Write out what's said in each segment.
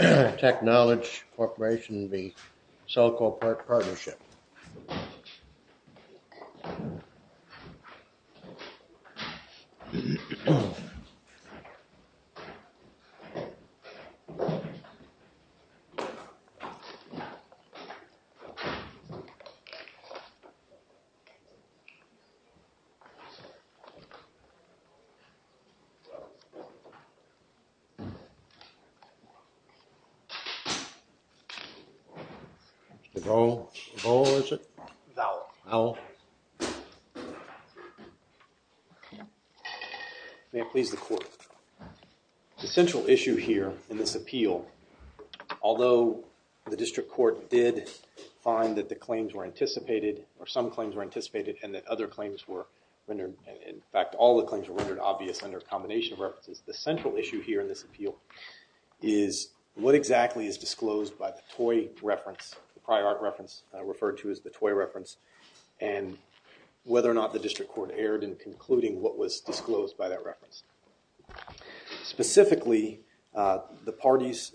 Technology Corporation v. Cellco Partnership. May it please the court, the central issue here in this appeal, although the district court did find that the claims were anticipated or some claims were anticipated and that other claims were rendered, in fact all the claims were rendered obvious under a combination of references, the central issue here in this appeal is what exactly is disclosed by the toy reference, the prior art reference referred to as the toy reference and whether or not the district court erred in concluding what was disclosed by that reference. Specifically, the parties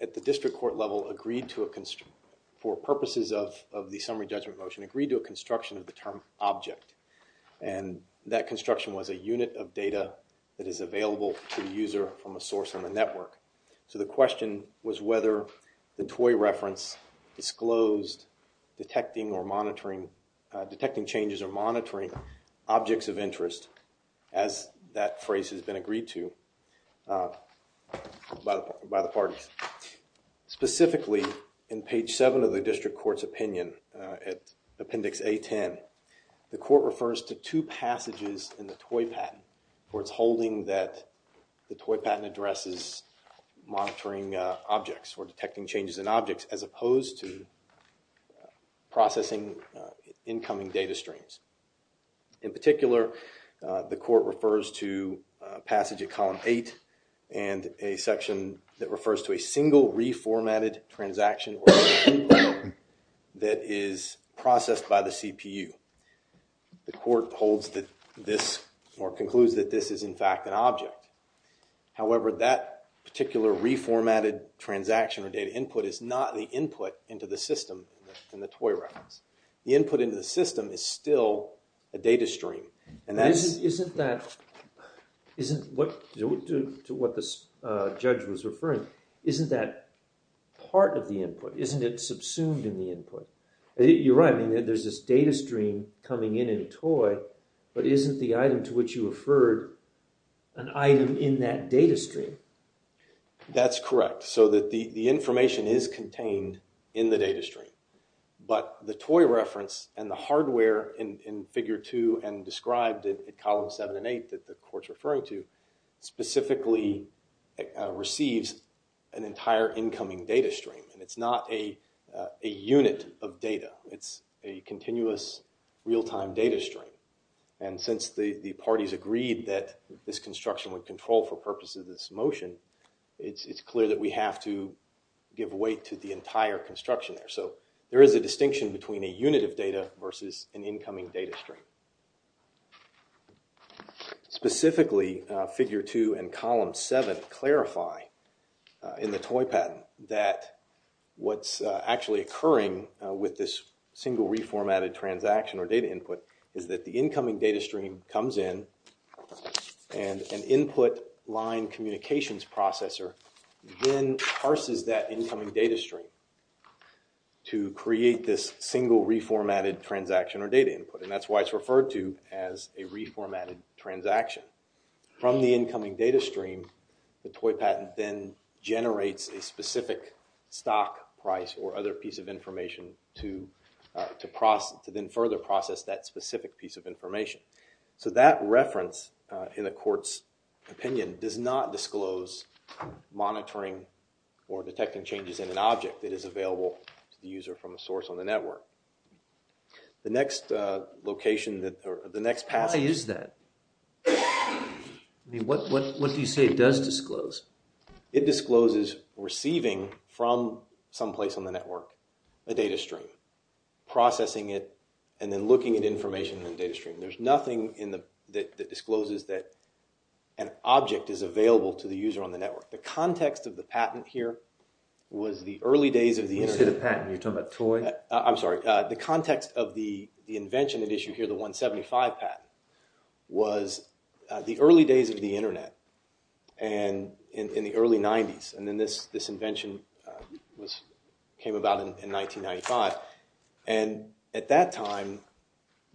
at the district court level agreed to a, for purposes of the summary judgment motion, agreed to a construction of the term object and that construction was a unit of available to the user from a source on the network. So the question was whether the toy reference disclosed detecting or monitoring, detecting changes or monitoring objects of interest as that phrase has been agreed to by the parties. Specifically, in page seven of the district court's opinion at appendix A-10, the court refers to two passages in the toy patent where it's holding that the toy patent addresses monitoring objects or detecting changes in objects as opposed to processing incoming data streams. In particular, the court refers to passage of column 8 and a section that refers to a single reformatted transaction that is processed by the CPU. The court holds that this, or concludes that this is in fact an object. However, that particular reformatted transaction or data input is not the input into the system in the toy reference. The input into the system is still a data stream and that's, isn't that, isn't what, to what this judge was referring, isn't that part of the input? Isn't it subsumed in the input? You're right, I mean there's this data stream coming in in a toy, but isn't the item to which you referred an item in that data stream? That's correct. So that the information is contained in the data stream, but the toy reference and the hardware in figure two and described in column 7 and 8 that the court's referring to specifically receives an entire incoming data stream. And it's not a unit of data, it's a continuous real-time data stream. And since the parties agreed that this construction would control for purposes of this motion, it's clear that we have to give weight to the entire construction there. So there is a distinction between a unit of data versus an incoming data stream. Specifically, figure two and column 7 clarify in the toy patent that what's actually occurring with this single reformatted transaction or data input is that the incoming data stream comes in and an input line communications processor then parses that incoming data stream to create this single reformatted transaction or data input. And that's why it's referred to as a reformatted transaction. From the incoming data stream, the toy patent then generates a specific stock price or other piece of information to process, to then further process that specific piece of information. So that reference in the court's opinion does not disclose monitoring or detecting changes in an object that is available to the user from a source on the network. The next location, or the next passage... Why is that? What do you say it does disclose? It discloses receiving from some place on the network a data stream, processing it, and then looking at The context of the patent here was the early days of the Internet. When you say the patent, are you talking about toy? I'm sorry. The context of the invention at issue here, the 175 patent, was the early days of the Internet. And in the early 90s. And then this invention came about in 1995. And at that time,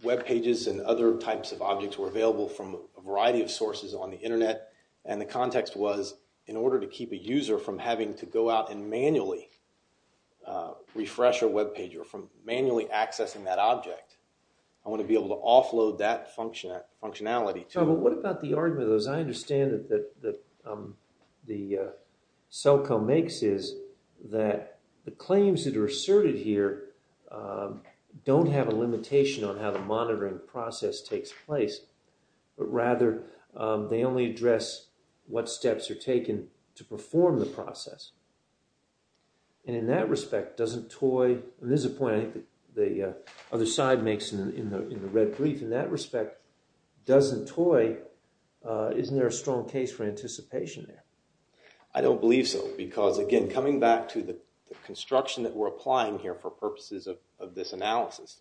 web pages and other types of objects were available from a variety of sources on the Internet. And the context was, in order to keep a user from having to go out and manually refresh a web page or from manually accessing that object, I want to be able to offload that functionality to... What about the argument, as I understand it, that the SoCo makes is that the claims that are asserted here don't have a limitation on how the monitoring process takes place. But rather, they only address what steps are taken to perform the process. And in that respect, doesn't toy... And this is a point I think the other side makes in the red brief. In that respect, doesn't toy... Isn't there a strong case for anticipation there? I don't believe so. Because again, coming back to the construction that we're applying here for purposes of this analysis.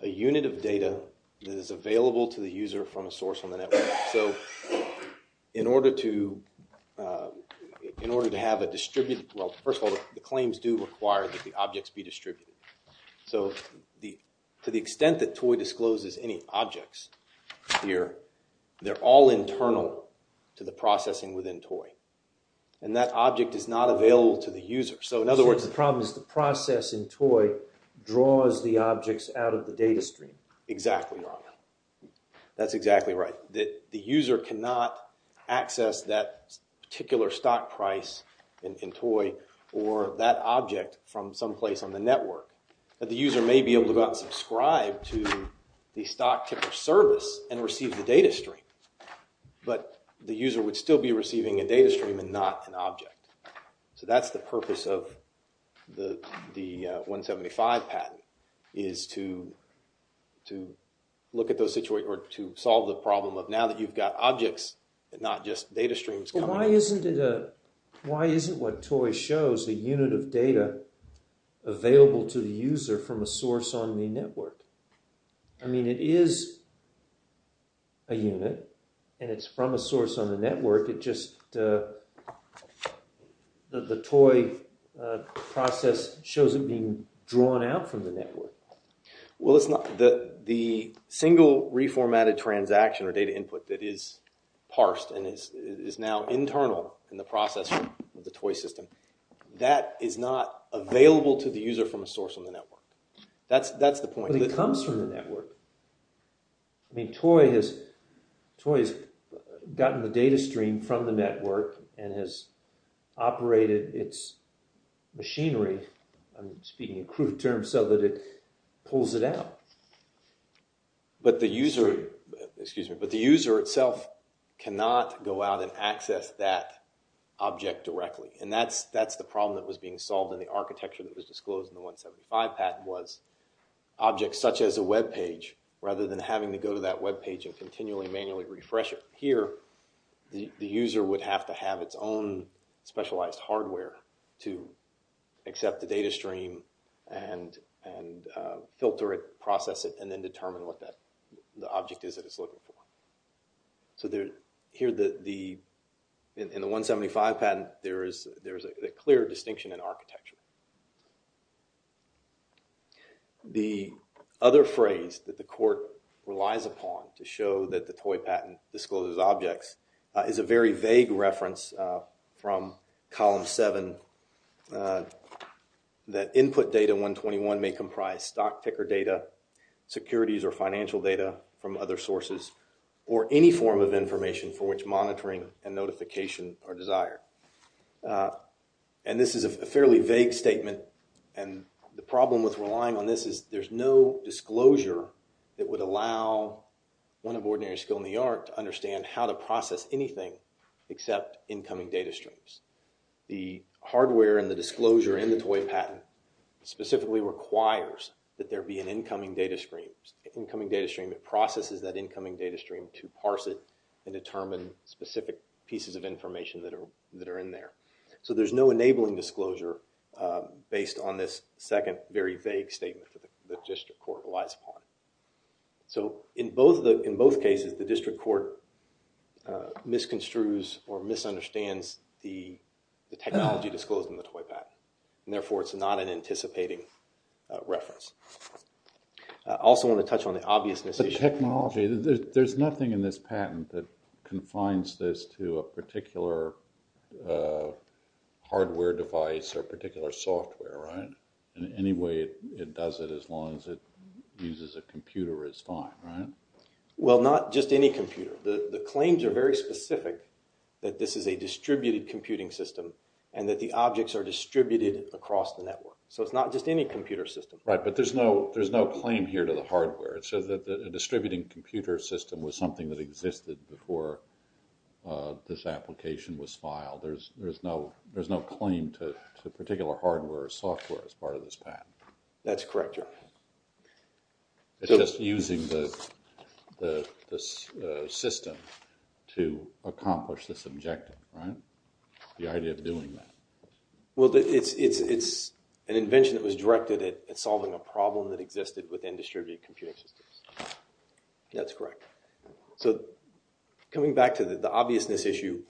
A unit of data that is available to the user from a source on the network. So, in order to have a distributed... Well, first of all, the claims do require that the objects be distributed. So, to the extent that toy discloses any objects here, they're all internal to the processing within toy. And that object is not available to the user. So, in other words... So, the problem is the process in toy draws the objects out of the data stream. Exactly. That's exactly right. But the user cannot access that particular stock price in toy or that object from some place on the network. But the user may be able to go out and subscribe to the stock type of service and receive the data stream. But the user would still be receiving a data stream and not an object. So, that's the purpose of the 175 patent. Is to look at those situations or to solve the problem of now that you've got objects and not just data streams. Why isn't what toy shows a unit of data available to the user from a source on the network? I mean, it is a unit and it's from a source on the network. It's just the toy process shows it being drawn out from the network. Well, the single reformatted transaction or data input that is parsed and is now internal in the process of the toy system, that is not available to the user from a source on the network. That's the point. But it comes from the network. I mean, toy has gotten the data stream from the network and has operated its machinery, I'm speaking in crude terms, so that it pulls it out. But the user itself cannot go out and access that object directly. And that's the problem that was being solved in the architecture that was disclosed in the 175 patent was objects such as a web page, rather than having to go to that web page and continually manually refresh it. Here, the user would have to have its own specialized hardware to accept the data stream and filter it, process it, and then determine what the object is that it's looking for. So here, in the 175 patent, there is a clear distinction in architecture. The other phrase that the court relies upon to show that the toy patent discloses objects is a very vague reference from Column 7, that input data 121 may comprise stock ticker data, securities or financial data from other sources, or any form of information for which monitoring and notification are desired. And this is a fairly vague statement, and the problem with relying on this is there's no disclosure that would allow one of ordinary skill in the art to understand how to process anything except incoming data streams. The hardware and the disclosure in the toy patent specifically requires that there be an incoming data stream. An incoming data stream that processes that incoming data stream to parse it and determine specific pieces of information that are in there. So there's no enabling disclosure based on this second very vague statement that the district court relies upon. So in both cases, the district court misconstrues or misunderstands the technology disclosed in the toy patent, and therefore it's not an anticipating reference. I also want to touch on the obvious mis- The technology, there's nothing in this patent that confines this to a particular hardware device or particular software, right? In any way, it does it as long as it uses a computer, it's fine, right? Well, not just any computer. The claims are very specific that this is a distributed computing system and that the objects are distributed across the network. So it's not just any computer system. Right, but there's no claim here to the hardware. It says that a distributing computer system was something that existed before this application was filed. There's no claim to particular hardware or software as part of this patent. That's correct, your honor. It's just using the system to accomplish this objective, right? The idea of doing that. Well, it's an invention that was directed at solving a problem that existed within distributed computing systems. That's correct. So coming back to the obviousness issue,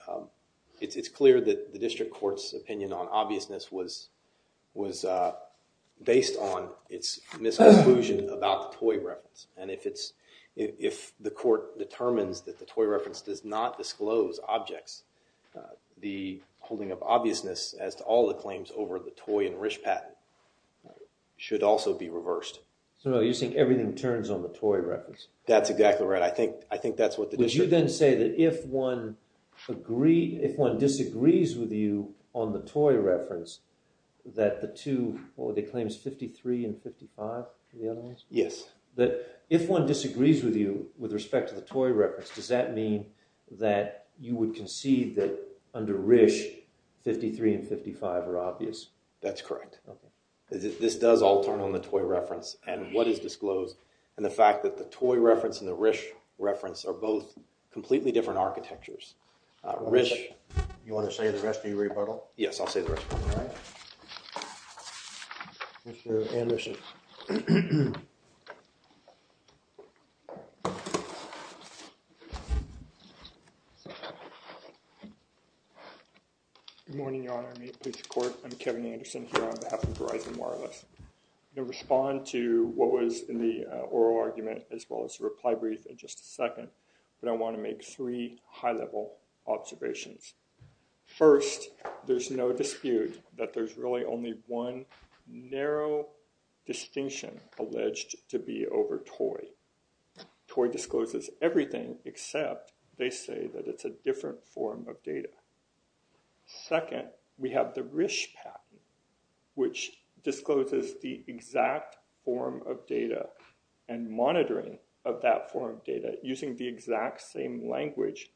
it's clear that the district court's opinion on obviousness was based on its misconclusion about the toy reference. And if the court determines that the toy reference does not disclose objects, the holding of obviousness as to all the claims over the toy and RISC patent should also be reversed. So you're saying everything turns on the toy reference? That's exactly right. I think that's what the district... Would you then say that if one disagrees with you on the toy reference, that the two, what were the claims, 53 and 55 are the other ones? Yes. If one disagrees with you with respect to the toy reference, does that mean that you would concede that under RISC 53 and 55 are obvious? That's correct. This does all turn on the toy reference and what is disclosed and the fact that the toy reference and the RISC reference are both completely different architectures. RISC... You want to say the rest of your rebuttal? Yes, I'll say the rest of it. All right. Mr. Anderson. Good morning, Your Honor. I'm Kevin Anderson here on behalf of Verizon Wireless. I'm going to respond to what was in the oral argument as well as the reply brief in just a second, but I want to make three high-level observations. First, there's no dispute that there's really only one narrow distinction alleged to be over toy. Toy discloses everything except they say that it's a different form of data. Second, we have the RISC patent, which discloses the exact form of data and monitoring of that form of data using the exact same language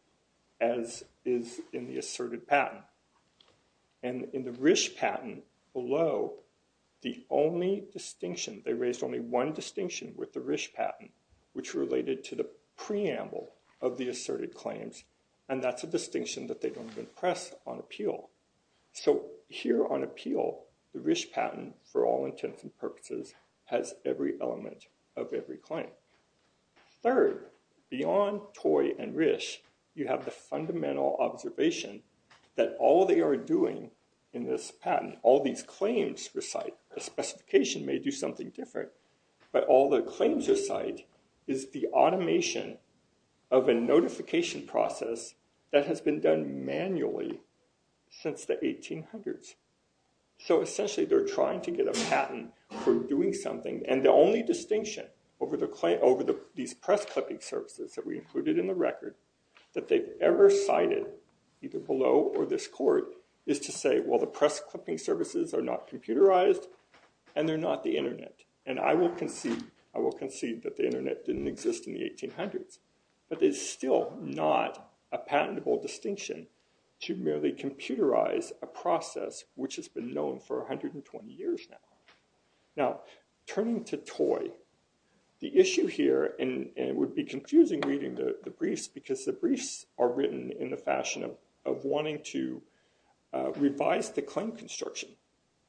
as is in the asserted patent. And in the RISC patent below, the only distinction, they raised only one distinction with the RISC patent, which related to the preamble of the asserted claims, and that's a distinction that they don't even press on appeal. So here on appeal, the RISC patent, for all intents and purposes, has every element of every claim. Third, beyond toy and RISC, you have the fundamental observation that all they are doing in this patent, all these claims recite, the specification may do something different, but all the claims recite is the automation of a notification process that has been done manually since the 1800s. So essentially, they're trying to get a patent for doing something, and the only distinction over these press-clipping services that we included in the record that they've ever cited, either below or this court, is to say, well, the press-clipping services are not computerized, and they're not the internet. And I will concede that the internet didn't exist in the 1800s, but it's still not a patentable distinction to merely computerize a process which has been known for 120 years now. Now, turning to toy, the issue here, and it would be confusing reading the briefs, because the briefs are written in the fashion of wanting to revise the claim construction.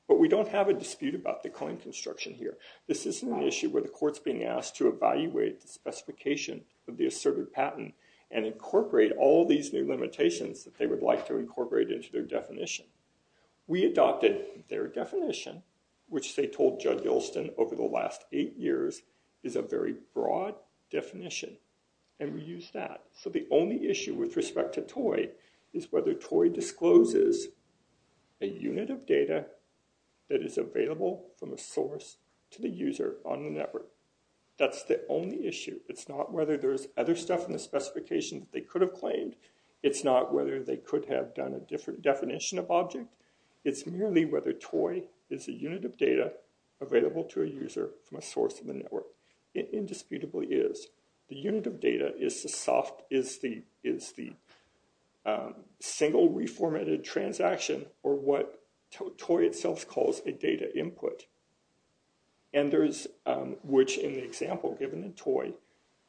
But we don't have a dispute about the claim construction here. This isn't an issue where the court's being asked to evaluate the specification of the asserted patent and incorporate all these new limitations that they would like to incorporate into their definition. We adopted their definition, which they told Judge Ilston over the last eight years is a very broad definition, and we used that. So the only issue with respect to toy is whether toy discloses a unit of data that is available from a source to the user on the network. That's the only issue. It's not whether there's other stuff in the specification that they could have claimed. It's not whether they could have done a different definition of object. It's merely whether toy is a unit of data available to a user from a source of the network. It indisputably is. The unit of data is the single reformatted transaction, or what toy itself calls a data input. And there is, which in the example given in toy,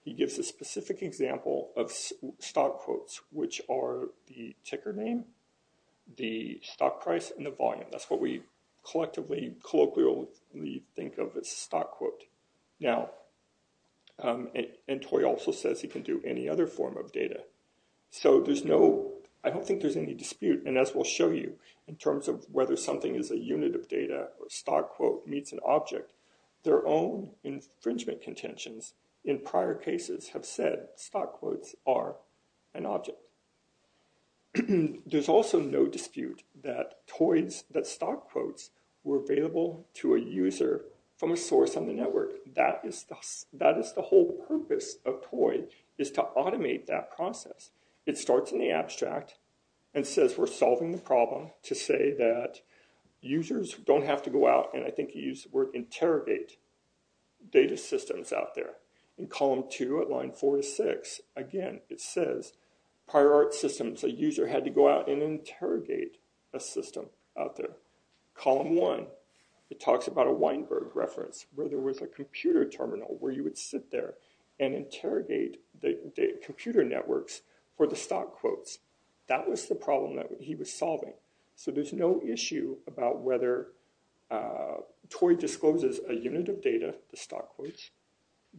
he gives a specific example of stock quotes, which are the ticker name, the stock price, and the volume. That's what we collectively, colloquially think of as stock quote. Now, and toy also says he can do any other form of data. So there's no, I don't think there's any dispute, and as we'll show you in terms of whether something is a unit of data or stock quote meets an object, their own infringement contentions in prior cases have said stock quotes are an object. There's also no dispute that toys that stock quotes were available to a user from a source on the network. That is the whole purpose of toy is to automate that process. It starts in the abstract and says we're solving the problem to say that users don't have to go out, and I think he used the word interrogate, data systems out there. In column two at line four to six, again, it says prior art systems, a user had to go out and interrogate a system out there. Column one, it talks about a Weinberg reference where there was a computer terminal where you would sit there and interrogate the computer networks for the stock quotes. That was the problem that he was solving. So there's no issue about whether toy discloses a unit of data, the stock quotes,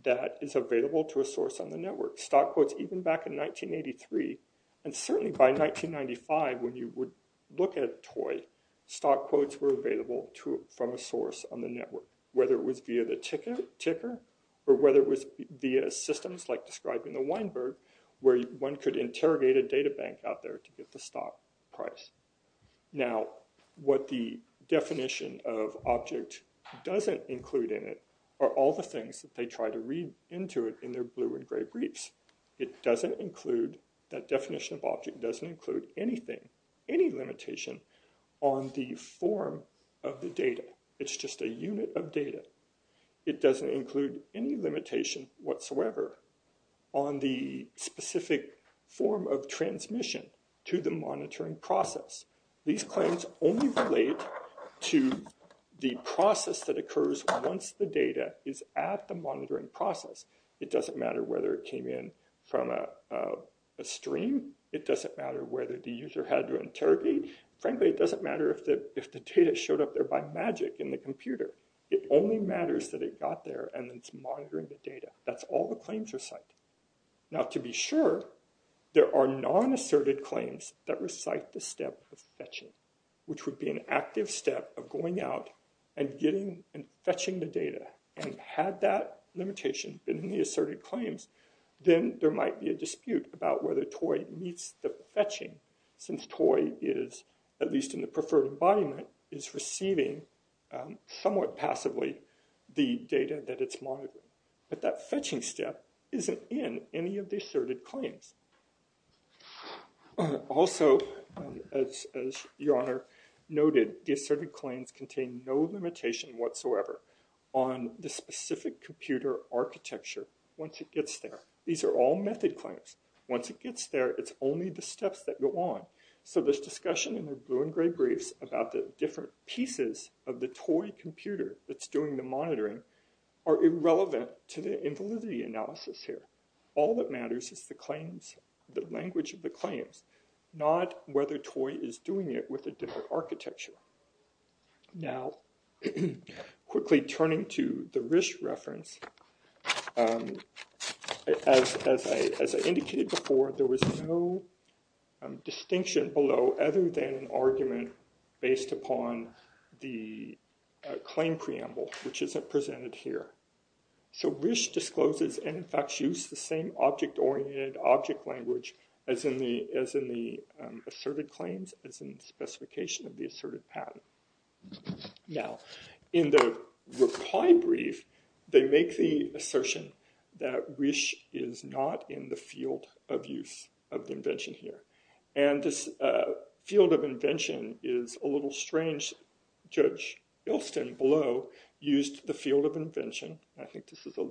that is available to a source on the network. Stock quotes even back in 1983, and certainly by 1995 when you would look at toy, stock quotes were available from a source on the network, whether it was via the ticker or whether it was via systems like described in the Weinberg where one could interrogate a data bank out there to get the stock price. Now what the definition of object doesn't include in it are all the things that they try to read into it in their blue and gray briefs. It doesn't include, that definition of object doesn't include anything, any limitation on the form of the data. It's just a unit of data. It doesn't include any limitation whatsoever on the specific form of transmission to the monitoring process. These claims only relate to the process that occurs once the data is at the monitoring process. It doesn't matter whether it came in from a stream. It doesn't matter whether the user had to interrogate. Frankly, it doesn't matter if the data showed up there by magic in the computer. It only matters that it got there and it's monitoring the data. That's all the claims recite. Now to be sure, there are non-asserted claims that recite the step of fetching, which would be an active step of going out and getting and fetching the data. And had that limitation been in the asserted claims, then there might be a dispute about whether toy meets the fetching since toy is, at least in the preferred embodiment, is receiving somewhat passively the data that it's monitoring. But that fetching step isn't in any of the asserted claims. Also, as Your Honor noted, the asserted claims contain no limitation whatsoever on the specific computer architecture once it gets there. These are all method claims. Once it gets there, it's only the steps that go on. So this discussion in the blue and gray briefs about the different pieces of the toy computer that's doing the monitoring are irrelevant to the invalidity analysis here. All that matters is the claims, the language of the claims, not whether toy is doing it with a different architecture. Now, quickly turning to the RISC reference, as I indicated before, there was no distinction below other than an argument based upon the claim preamble, which is presented here. So RISC discloses and, in fact, used the same object-oriented object language as in the asserted claims, as in the specification of the asserted patent. Now, in the reply brief, they make the assertion that RISC is not in the field of use of the invention here. And this field of invention is a little strange. Judge Ilston below used the field of invention, and I think this is a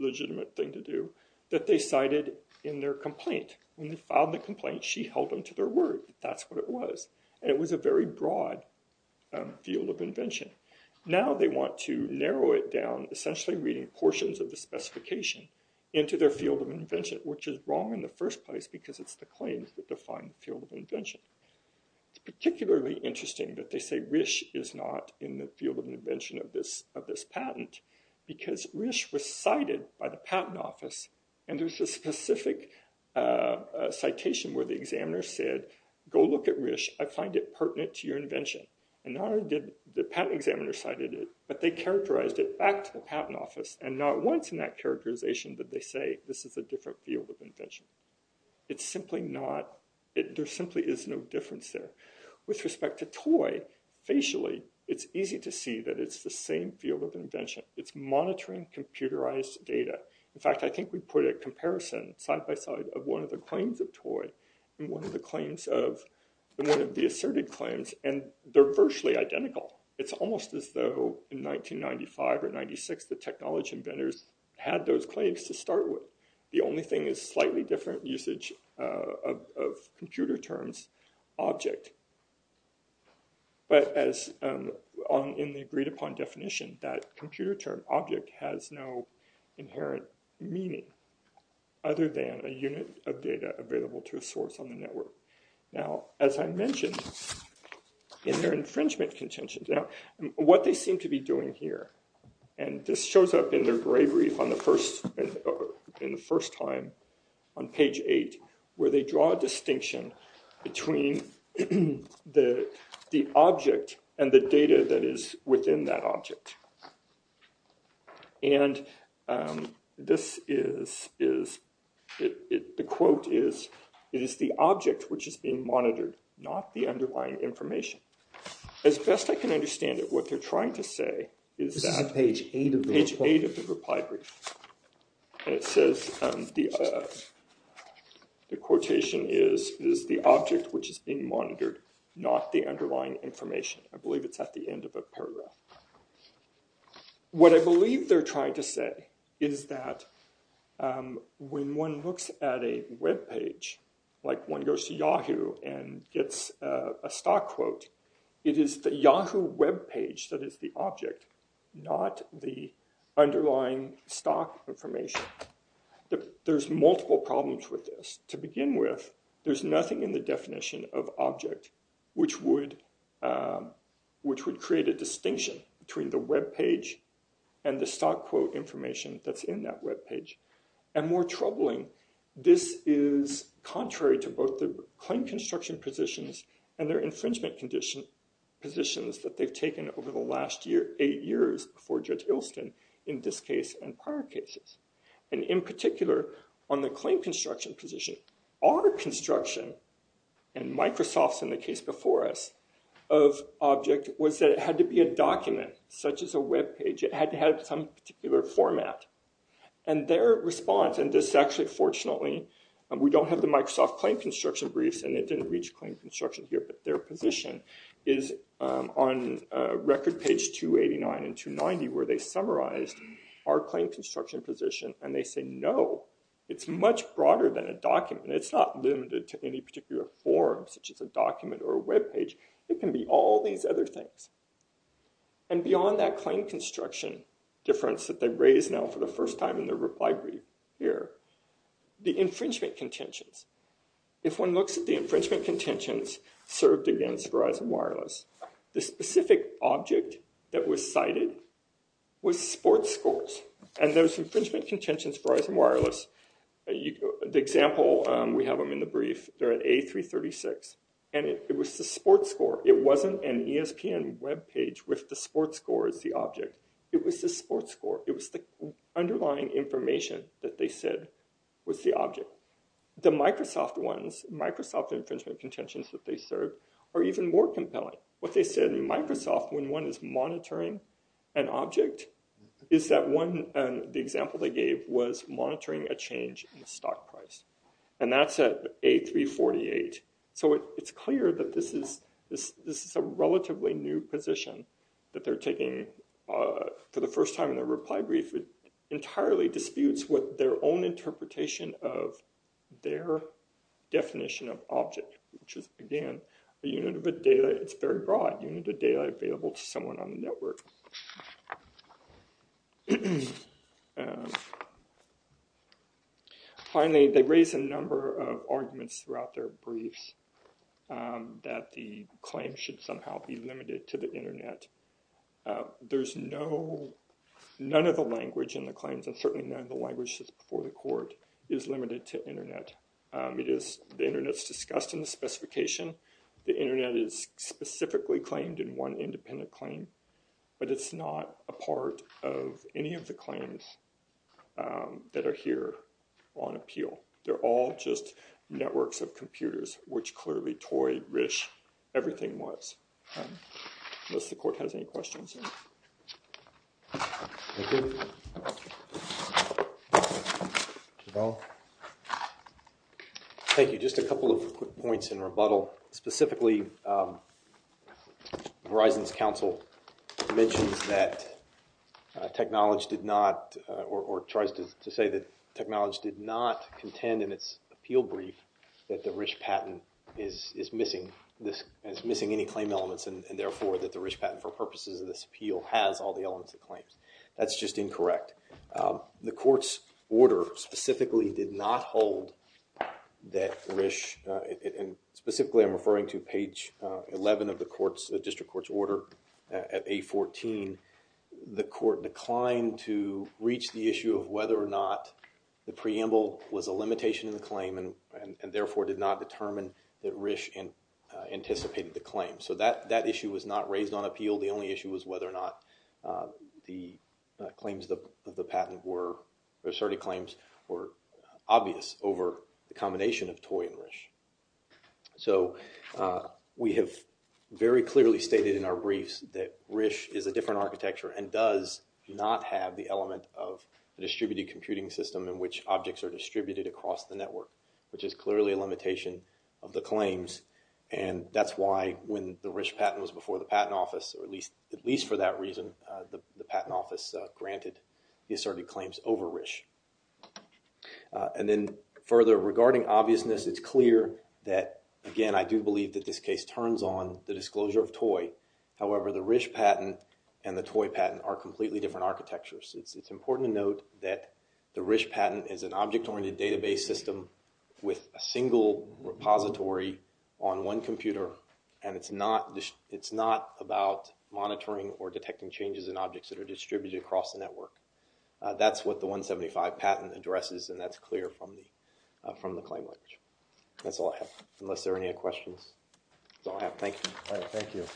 legitimate thing to do, that they cited in their complaint. When they filed the complaint, she held on to their word that that's what it was. And it was a very broad field of invention. Now they want to narrow it down, essentially reading portions of the specification into their field of invention, which is wrong in the first place because it's the claims that define the field of invention. It's particularly interesting that they say RISC is not in the field of invention of this patent because RISC was cited by the patent office, and there's a specific citation where the examiner said, go look at RISC, I find it pertinent to your invention. And not only did the patent examiner cite it, but they characterized it back to the patent office, and not once in that characterization did they say this is a different field of invention. It's simply not, there simply is no difference there. With respect to TOI, facially, it's easy to see that it's the same field of invention. It's monitoring computerized data. In fact, I think we put a comparison side by side of one of the claims of TOI and one of the asserted claims, and they're virtually identical. It's almost as though in 1995 or 96, the technology inventors had those claims to start with. The only thing is slightly different usage of computer terms, object. But as in the agreed upon definition, that computer term object has no inherent meaning other than a unit of data available to a source on the network. Now, as I mentioned, in their infringement contentions, what they seem to be doing here, and this shows up in their gray brief in the first time on page eight, where they draw a distinction between the object and the data that is within that object. And this is, the quote is, it is the object which is being monitored, not the underlying information. As best I can understand it, what they're trying to say is that page eight of the reply brief. It says the quotation is, is the object which is being monitored, not the underlying information. I believe it's at the end of a paragraph. What I believe they're trying to say is that when one looks at a web page, like one goes to Yahoo and gets a stock quote, it is the Yahoo web page that is the object, not the underlying stock information. There's multiple problems with this. To begin with, there's nothing in the definition of object which would create a distinction between the web page and the stock quote information that's in that web page. And more troubling, this is contrary to both the claim construction positions and their infringement positions that they've taken over the last eight years before Judge Ilston in this case and prior cases. And in particular, on the claim construction position, our construction, and Microsoft's in the case before us, of object was that it had to be a document such as a web page. It had to have some particular format. And their response, and this actually fortunately, we don't have the Microsoft claim construction briefs and it didn't reach claim construction here, but their position is on record page 289 and 290 where they summarized our claim construction position and they say no. It's much broader than a document. It's not limited to any particular form such as a document or a web page. It can be all these other things. And beyond that claim construction difference that they've raised now for the first time in their reply brief here, the infringement contentions. If one looks at the infringement contentions served against Verizon Wireless, the specific object that was cited was sports scores. And those infringement contentions for Verizon Wireless, the example we have them in the brief, they're at A336 and it was the sports score. It wasn't an ESPN web page with the sports score as the object. It was the sports score. It was the underlying information that they said was the object. So, the Microsoft ones, Microsoft infringement contentions that they serve are even more compelling. What they said in Microsoft when one is monitoring an object is that one, the example they gave was monitoring a change in the stock price. And that's at A348. So, it's clear that this is a relatively new position that they're taking for the first time in their reply brief. It entirely disputes with their own interpretation of their definition of object, which is, again, a unit of data. It's very broad. Unit of data available to someone on the network. Finally, they raise a number of arguments throughout their briefs that the claim should somehow be limited to the Internet. There's no, none of the language in the claims, and certainly none of the language that's before the court, is limited to Internet. The Internet's discussed in the specification. The Internet is specifically claimed in one independent claim, but it's not a part of any of the claims that are here on appeal. They're all just networks of computers, which clearly toy, rich, everything was, unless the court has any questions. Thank you. Thank you. Just a couple of quick points in rebuttal. Specifically, Verizon's counsel mentions that technology did not, or tries to say that technology did not contend in its appeal brief, that the RISC patent is missing any claim elements, and therefore that the RISC patent, for purposes of this appeal, has all the elements of claims. That's just incorrect. The court's order specifically did not hold that RISC, and specifically I'm referring to page 11 of the court's, the district court's order at 814. The court declined to reach the issue of whether or not the preamble was a limitation in the claim, and therefore did not determine that RISC anticipated the claim. So that issue was not raised on appeal. The only issue was whether or not the claims of the patent were, or certain claims were obvious over the combination of toy and RISC. So, we have very clearly stated in our briefs that RISC is a different architecture, and does not have the element of a distributed computing system in which objects are distributed across the network, which is clearly a limitation of the claims, and that's why when the RISC patent was before the patent office, or at least for that reason, the patent office granted the asserted claims over RISC. And then further, regarding obviousness, it's clear that, again, I do believe that this case turns on the disclosure of toy. However, the RISC patent and the toy patent are completely different architectures. It's important to note that the RISC patent is an object-oriented database system with a single repository on one computer, and it's not about monitoring or detecting changes in objects that are distributed across the network. That's what the 175 patent addresses, and that's clear from the claim language. That's all I have, unless there are any other questions. That's all I have. Thank you. Thank you.